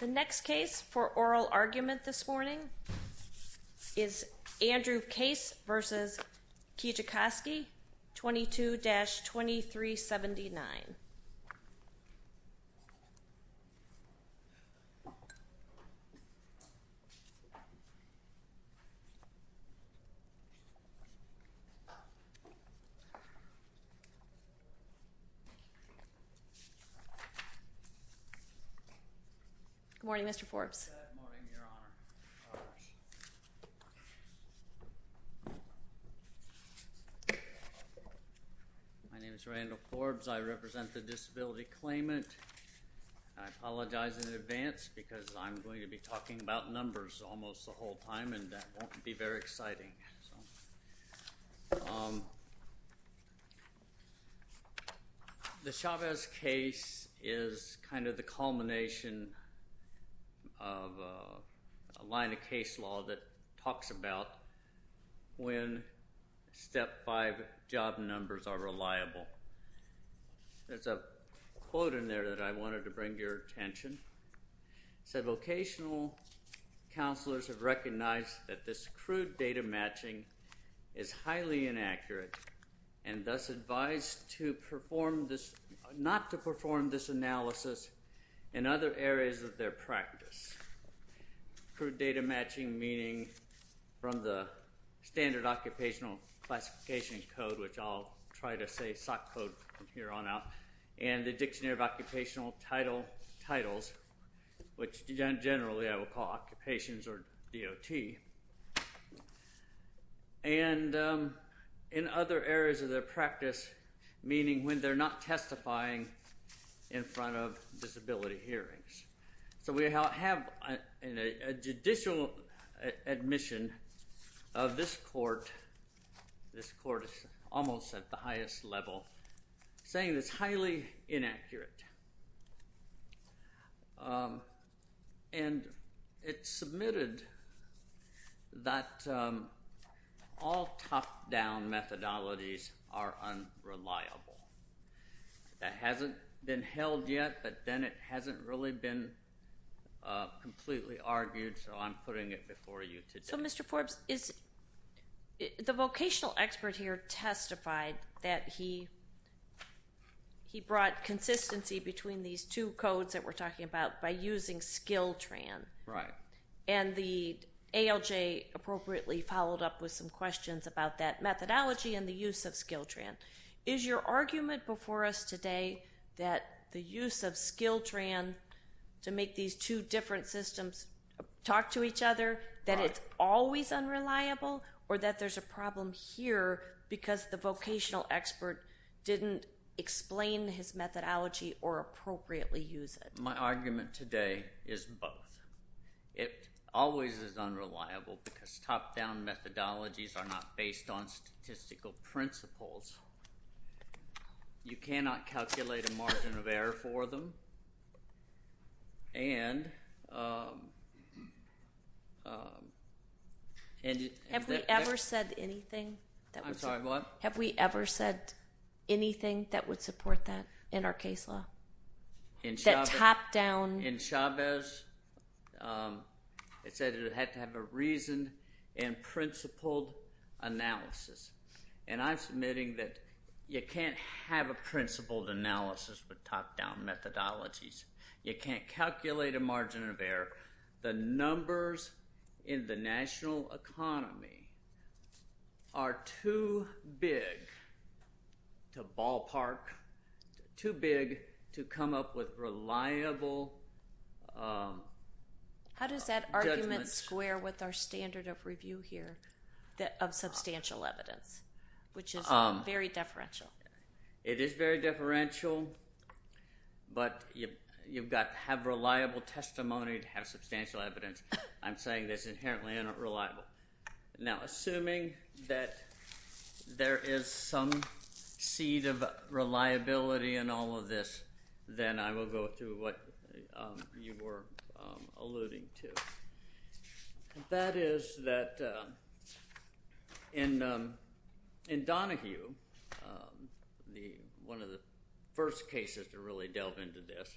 The next case for oral argument this morning is Andrew Case v. Kijakazi, 22-2379. Good morning, Mr. Forbes. Good morning, Your Honor. My name is Randall Forbes. I represent the Disability Claimant. I apologize in advance because I'm going to be talking about numbers almost the whole time, and that won't be very exciting. The Chavez case is kind of the culmination of a line of case law that talks about when Step 5 job numbers are reliable. There's a quote in there that I wanted to bring to your attention. It said, Vocational counselors have recognized that this crude data matching is highly inaccurate, and thus advised not to perform this analysis in other areas of their practice. Crude data matching meaning from the standard occupational classification code, which I'll try to say SOC code from here on out, and the dictionary of occupational titles, which generally I will call occupations or DOT, and in other areas of their practice, meaning when they're not testifying in front of disability hearings. So we have a judicial admission of this court, this court is almost at the highest level, saying it's highly inaccurate. And it's submitted that all top-down methodologies are unreliable. That hasn't been held yet, but then it hasn't really been completely argued, so I'm putting it before you today. So Mr. Forbes, the vocational expert here testified that he brought consistency between these two codes that we're talking about by using Skill-Tran. Right. And the ALJ appropriately followed up with some questions about that methodology and the use of Skill-Tran. Is your argument before us today that the use of Skill-Tran to make these two different systems talk to each other, that it's always unreliable, or that there's a problem here because the vocational expert didn't explain his methodology or appropriately use it? My argument today is both. It always is unreliable because top-down methodologies are not based on statistical principles. You cannot calculate a margin of error for them. Have we ever said anything that would support that in our case law? That top-down? In Chavez, it said it had to have a reasoned and principled analysis. And I'm submitting that you can't have a principled analysis with top-down methodologies. You can't calculate a margin of error. The numbers in the national economy are too big to ballpark, too big to come up with reliable judgments. How does that argument square with our standard of review here of substantial evidence, which is very deferential? It is very deferential, but you've got to have reliable testimony to have substantial evidence. I'm saying that it's inherently unreliable. Now, assuming that there is some seed of reliability in all of this, then I will go through what you were alluding to. That is that in Donahue, one of the first cases to really delve into this,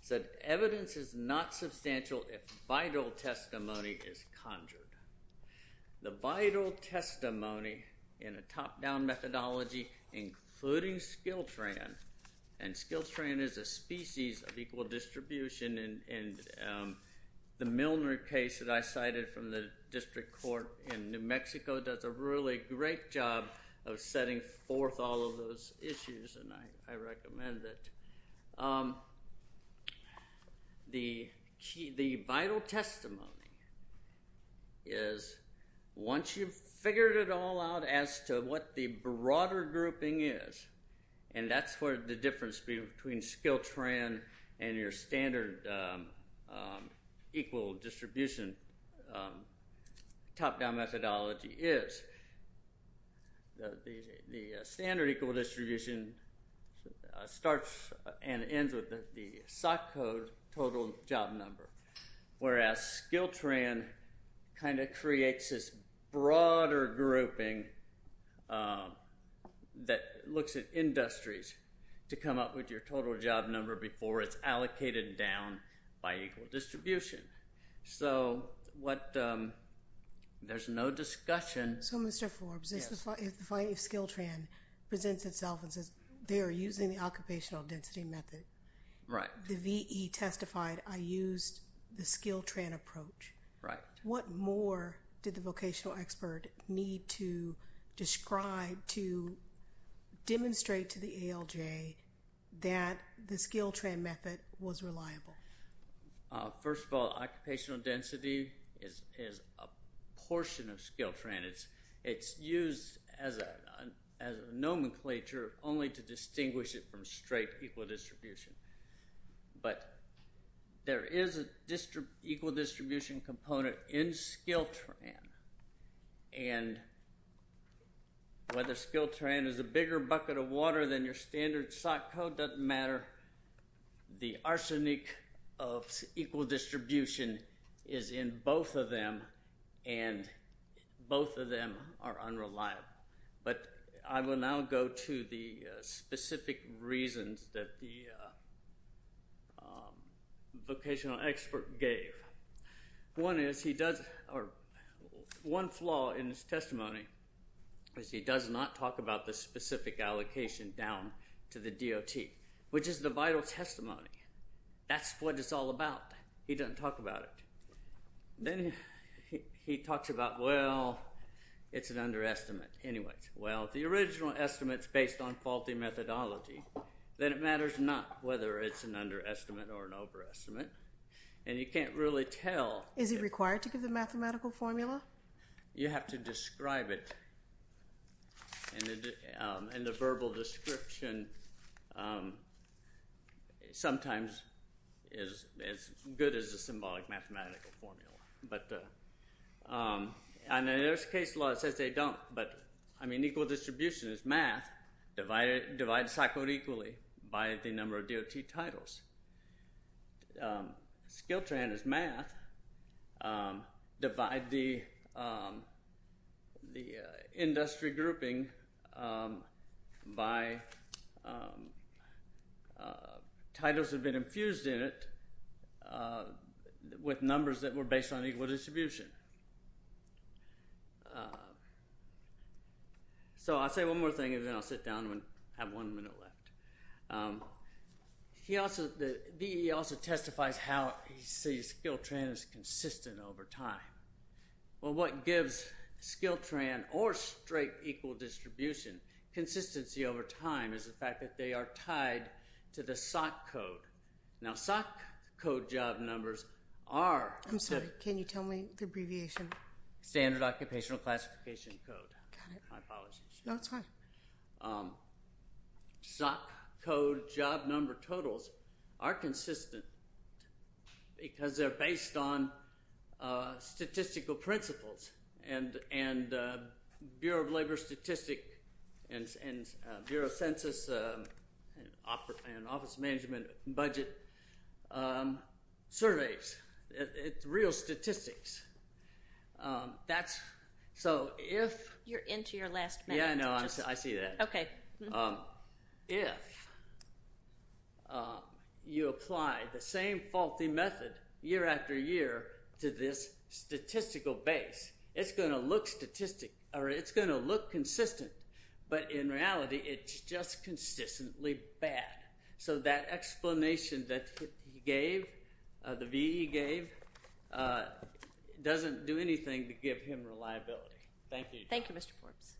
said evidence is not substantial if vital testimony is conjured. The vital testimony in a top-down methodology, including Skiltran, and Skiltran is a species of equal distribution. And the Milner case that I cited from the district court in New Mexico does a really great job of setting forth all of those issues, and I recommend it. The vital testimony is once you've figured it all out as to what the broader grouping is, and that's where the difference between Skiltran and your standard equal distribution top-down methodology is, is that the standard equal distribution starts and ends with the SOC code total job number, whereas Skiltran kind of creates this broader grouping that looks at industries to come up with your total job number before it's allocated down by equal distribution. So there's no discussion. So, Mr. Forbes, if Skiltran presents itself and says they are using the occupational density method, the VE testified, I used the Skiltran approach. What more did the vocational expert need to describe to demonstrate to the ALJ that the Skiltran method was reliable? First of all, occupational density is a portion of Skiltran. It's used as a nomenclature only to distinguish it from straight equal distribution. But there is an equal distribution component in Skiltran, and whether Skiltran is a bigger bucket of water than your standard SOC code doesn't matter. The arsenic of equal distribution is in both of them, and both of them are unreliable. But I will now go to the specific reasons that the vocational expert gave. One flaw in his testimony is he does not talk about the specific allocation down to the DOT, which is the vital testimony. That's what it's all about. He doesn't talk about it. Then he talks about, well, it's an underestimate. Well, if the original estimate is based on faulty methodology, then it matters not whether it's an underestimate or an overestimate, and you can't really tell. Is it required to give the mathematical formula? You have to describe it, and the verbal description sometimes is as good as the symbolic mathematical formula. And there's a case law that says they don't. But, I mean, equal distribution is math. Divide the SOC code equally by the number of DOT titles. Skiltran is math. Divide the industry grouping by titles that have been infused in it with numbers that were based on equal distribution. So I'll say one more thing, and then I'll sit down and have one minute left. He also testifies how he sees Skiltran is consistent over time. Well, what gives Skiltran or straight equal distribution consistency over time is the fact that they are tied to the SOC code. Now, SOC code job numbers are- I'm sorry. Can you tell me the abbreviation? Standard Occupational Classification Code. Got it. My apologies. No, it's fine. SOC code job number totals are consistent because they're based on statistical principles and Bureau of Labor Statistics and Bureau of Census and Office Management Budget surveys. It's real statistics. That's- so if- You're into your last minute. Yeah, I know. If you apply the same faulty method year after year to this statistical base, it's going to look consistent. But in reality, it's just consistently bad. So that explanation that he gave, the VE gave, doesn't do anything to give him reliability. Thank you. Thank you, Mr. Forbes.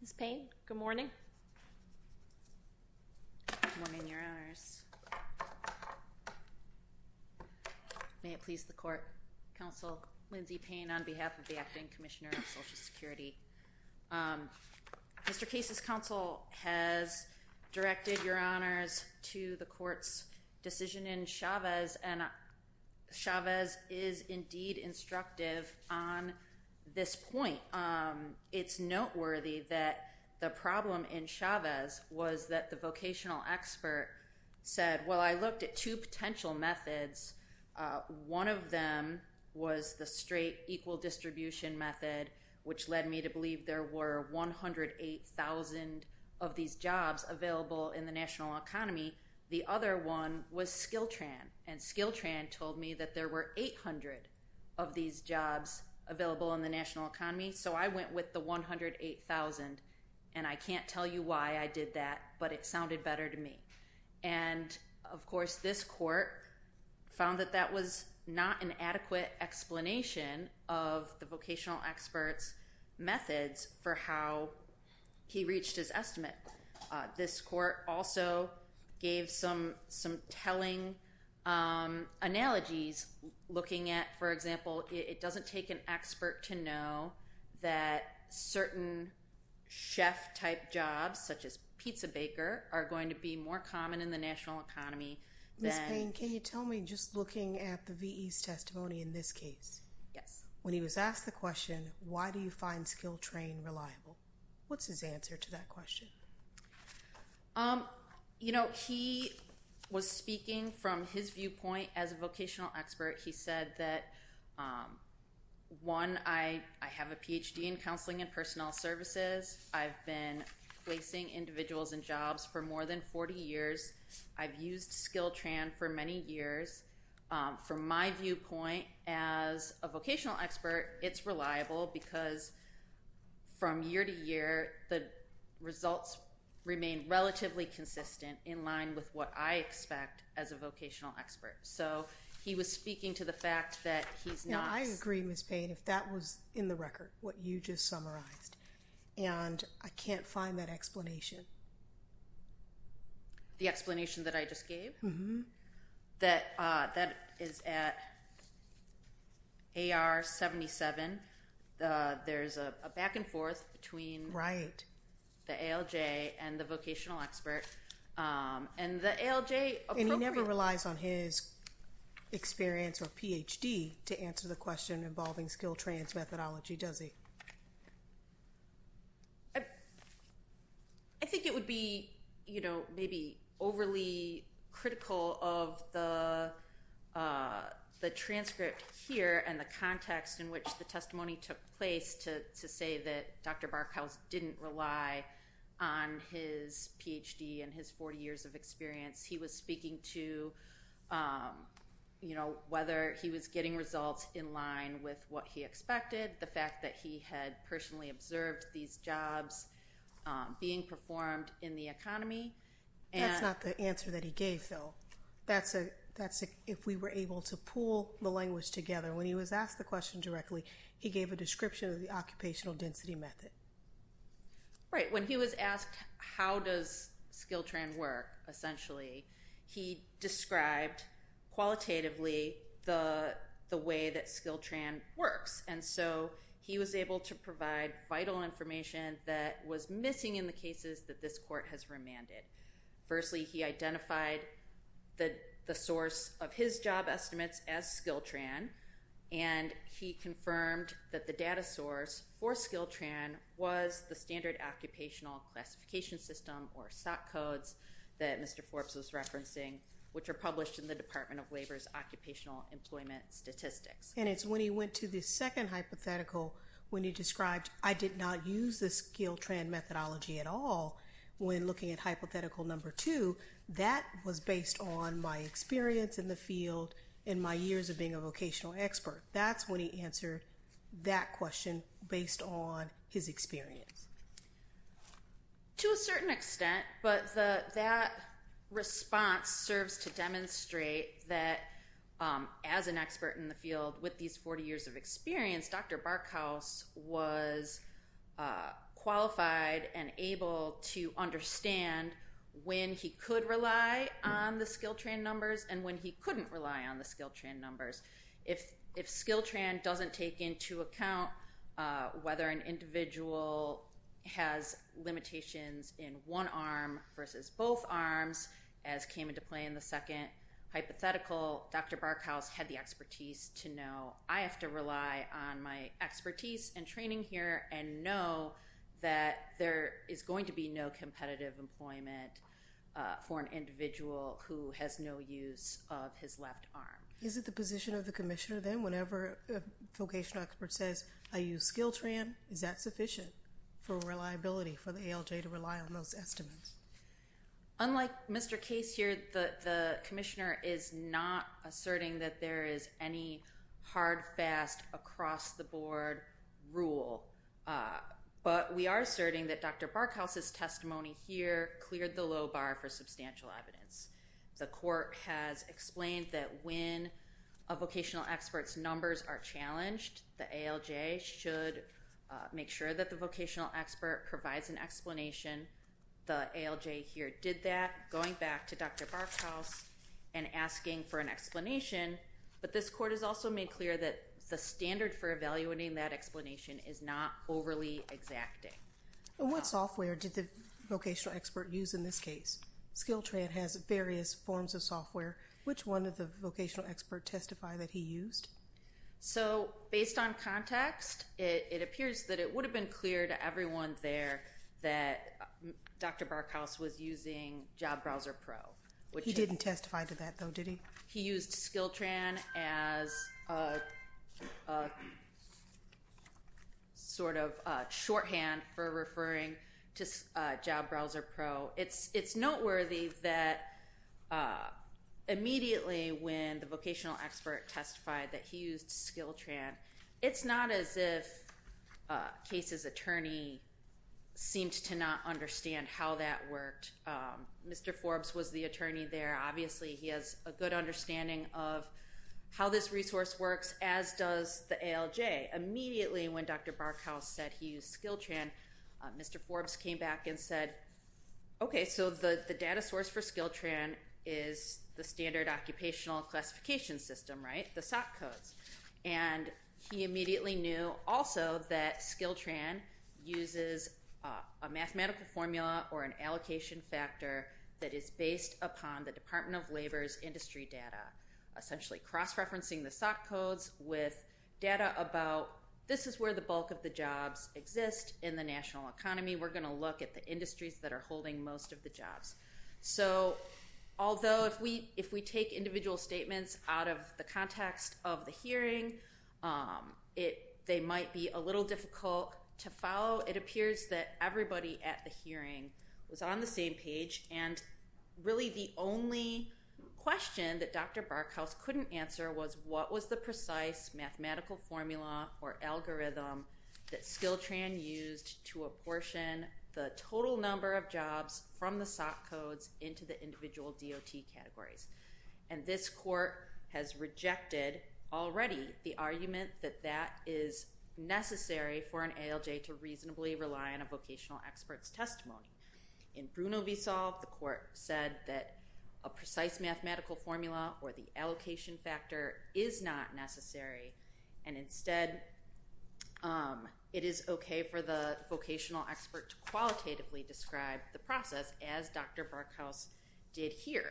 Ms. Payne, good morning. Good morning, Your Honors. May it please the court. Counsel Lindsay Payne on behalf of the Acting Commissioner of Social Security. Mr. Case's counsel has directed, Your Honors, to the court's decision in Chavez, and Chavez is indeed instructive on this point. It's noteworthy that the problem in Chavez was that the vocational expert said, Well, I looked at two potential methods. One of them was the straight equal distribution method, which led me to believe there were 108,000 of these jobs available in the national economy. The other one was Skiltran, and Skiltran told me that there were 800 of these jobs available in the national economy. So I went with the 108,000, and I can't tell you why I did that, but it sounded better to me. And, of course, this court found that that was not an adequate explanation of the vocational expert's methods for how he reached his estimate. This court also gave some telling analogies looking at, for example, it doesn't take an expert to know that certain chef-type jobs, such as pizza baker, are going to be more common in the national economy. Ms. Payne, can you tell me, just looking at the V.E.'s testimony in this case, when he was asked the question, Why do you find Skiltran reliable? What's his answer to that question? You know, he was speaking from his viewpoint as a vocational expert. He said that, one, I have a Ph.D. in counseling and personnel services. I've been placing individuals in jobs for more than 40 years. I've used Skiltran for many years. From my viewpoint as a vocational expert, it's reliable because from year to year, the results remain relatively consistent in line with what I expect as a vocational expert. So he was speaking to the fact that he's not… Now, I agree, Ms. Payne, if that was in the record, what you just summarized, and I can't find that explanation. The explanation that I just gave? Mm-hmm. That is at AR 77. There's a back and forth between… Right. …the ALJ and the vocational expert. And the ALJ appropriately… And he never relies on his experience or Ph.D. to answer the question involving Skiltran's methodology, does he? I think it would be, you know, maybe overly critical of the transcript here and the context in which the testimony took place to say that Dr. Barkhouse didn't rely on his Ph.D. and his 40 years of experience. He was speaking to, you know, whether he was getting results in line with what he expected, the fact that he had personally observed these jobs being performed in the economy, and… That's not the answer that he gave, though. That's if we were able to pool the language together. When he was asked the question directly, he gave a description of the occupational density method. Right. When he was asked how does Skiltran work, essentially, he described qualitatively the way that Skiltran works. And so he was able to provide vital information that was missing in the cases that this court has remanded. Firstly, he identified the source of his job estimates as Skiltran, and he confirmed that the data source for Skiltran was the Standard Occupational Classification System, or SOC codes, that Mr. Forbes was referencing, which are published in the Department of Labor's Occupational Employment Statistics. And it's when he went to the second hypothetical, when he described, I did not use the Skiltran methodology at all, when looking at hypothetical number two, that was based on my experience in the field and my years of being a vocational expert. That's when he answered that question based on his experience. To a certain extent, but that response serves to demonstrate that as an expert in the field with these 40 years of experience, Dr. Barkhouse was qualified and able to understand when he could rely on the Skiltran numbers and when he couldn't rely on the Skiltran numbers. If Skiltran doesn't take into account whether an individual has limitations in one arm versus both arms, as came into play in the second hypothetical, Dr. Barkhouse had the expertise to know, I have to rely on my expertise and training here and know that there is going to be no competitive employment for an individual who has no use of his left arm. Is it the position of the commissioner, then, whenever a vocational expert says, I use Skiltran, is that sufficient for reliability for the ALJ to rely on those estimates? Unlike Mr. Case here, the commissioner is not asserting that there is any hard, fast, across-the-board rule. But we are asserting that Dr. Barkhouse's testimony here cleared the low bar for substantial evidence. The court has explained that when a vocational expert's numbers are challenged, the ALJ should make sure that the vocational expert provides an explanation. The ALJ here did that, going back to Dr. Barkhouse and asking for an explanation, but this court has also made clear that the standard for evaluating that explanation is not overly exacting. What software did the vocational expert use in this case? Skiltran has various forms of software. Which one did the vocational expert testify that he used? So, based on context, it appears that it would have been clear to everyone there that Dr. Barkhouse was using Job Browser Pro. He didn't testify to that, though, did he? He used Skiltran as a sort of shorthand for referring to Job Browser Pro. It's noteworthy that immediately when the vocational expert testified that he used Skiltran, it's not as if Case's attorney seemed to not understand how that worked. Mr. Forbes was the attorney there. Obviously, he has a good understanding of how this resource works, as does the ALJ. Immediately when Dr. Barkhouse said he used Skiltran, Mr. Forbes came back and said, Okay, so the data source for Skiltran is the standard occupational classification system, right? The SOC codes. And he immediately knew also that Skiltran uses a mathematical formula or an allocation factor that is based upon the Department of Labor's industry data. Essentially cross-referencing the SOC codes with data about this is where the bulk of the jobs exist in the national economy. We're going to look at the industries that are holding most of the jobs. So, although if we take individual statements out of the context of the hearing, they might be a little difficult to follow. It appears that everybody at the hearing was on the same page, and really the only question that Dr. Barkhouse couldn't answer was, What was the precise mathematical formula or algorithm that Skiltran used to apportion the total number of jobs from the SOC codes into the individual DOT categories? And this court has rejected already the argument that that is necessary for an ALJ to reasonably rely on a vocational expert's testimony. In Bruno v. Saul, the court said that a precise mathematical formula or the allocation factor is not necessary, and instead it is okay for the vocational expert to qualitatively describe the process as Dr. Barkhouse did here.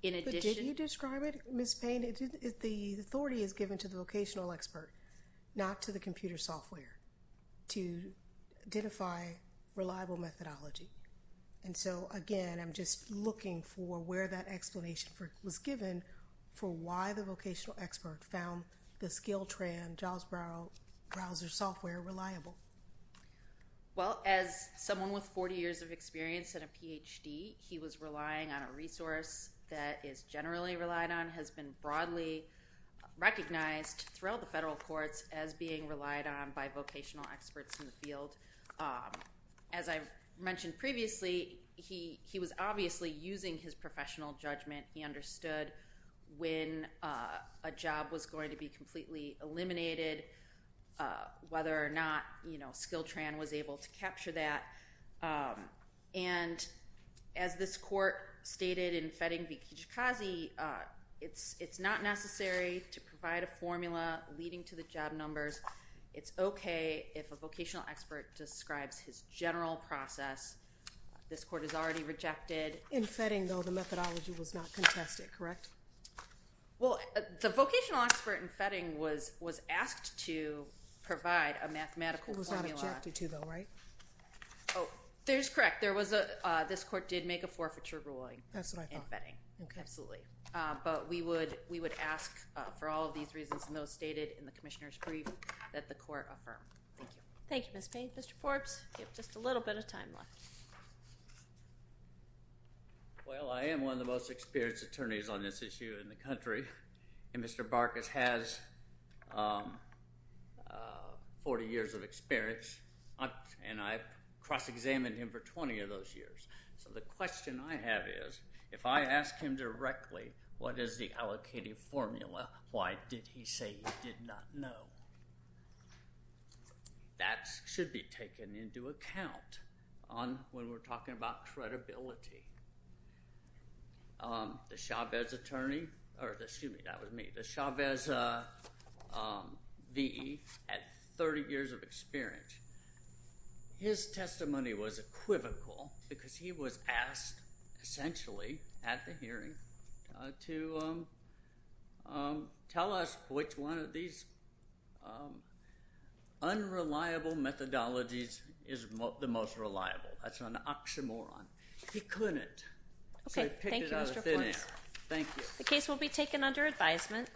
But did you describe it, Ms. Payne? The authority is given to the vocational expert, not to the computer software, to identify reliable methodology. And so, again, I'm just looking for where that explanation was given for why the vocational expert found the Skiltran jobs browser software reliable. Well, as someone with 40 years of experience and a PhD, he was relying on a resource that is generally relied on, has been broadly recognized throughout the federal courts as being relied on by vocational experts in the field. As I mentioned previously, he was obviously using his professional judgment. He understood when a job was going to be completely eliminated, whether or not Skiltran was able to capture that. And as this court stated in Fetting v. Kijikazi, it's not necessary to provide a formula leading to the job numbers. It's okay if a vocational expert describes his general process. This court has already rejected. In Fetting, though, the methodology was not contested, correct? Well, the vocational expert in Fetting was asked to provide a mathematical formula. It was not objected to, though, right? Oh, there's correct. This court did make a forfeiture ruling in Fetting. That's what I thought. Okay. Absolutely. But we would ask for all of these reasons, and those stated in the commissioner's brief, that the court affirm. Thank you. Thank you, Ms. Payne. Mr. Forbes, you have just a little bit of time left. Well, I am one of the most experienced attorneys on this issue in the country, and Mr. Barkas has 40 years of experience, and I've cross-examined him for 20 of those years. So the question I have is if I ask him directly what is the allocated formula, why did he say he did not know? That should be taken into account when we're talking about credibility. The Chavez attorney, or excuse me, that was me, the Chavez V.E. had 30 years of experience. His testimony was equivocal because he was asked essentially at the hearing to tell us which one of these unreliable methodologies is the most reliable. That's an oxymoron. He couldn't. Okay. Thank you, Mr. Forbes. So he picked it out of thin air. Thank you. The case will be taken under advisement.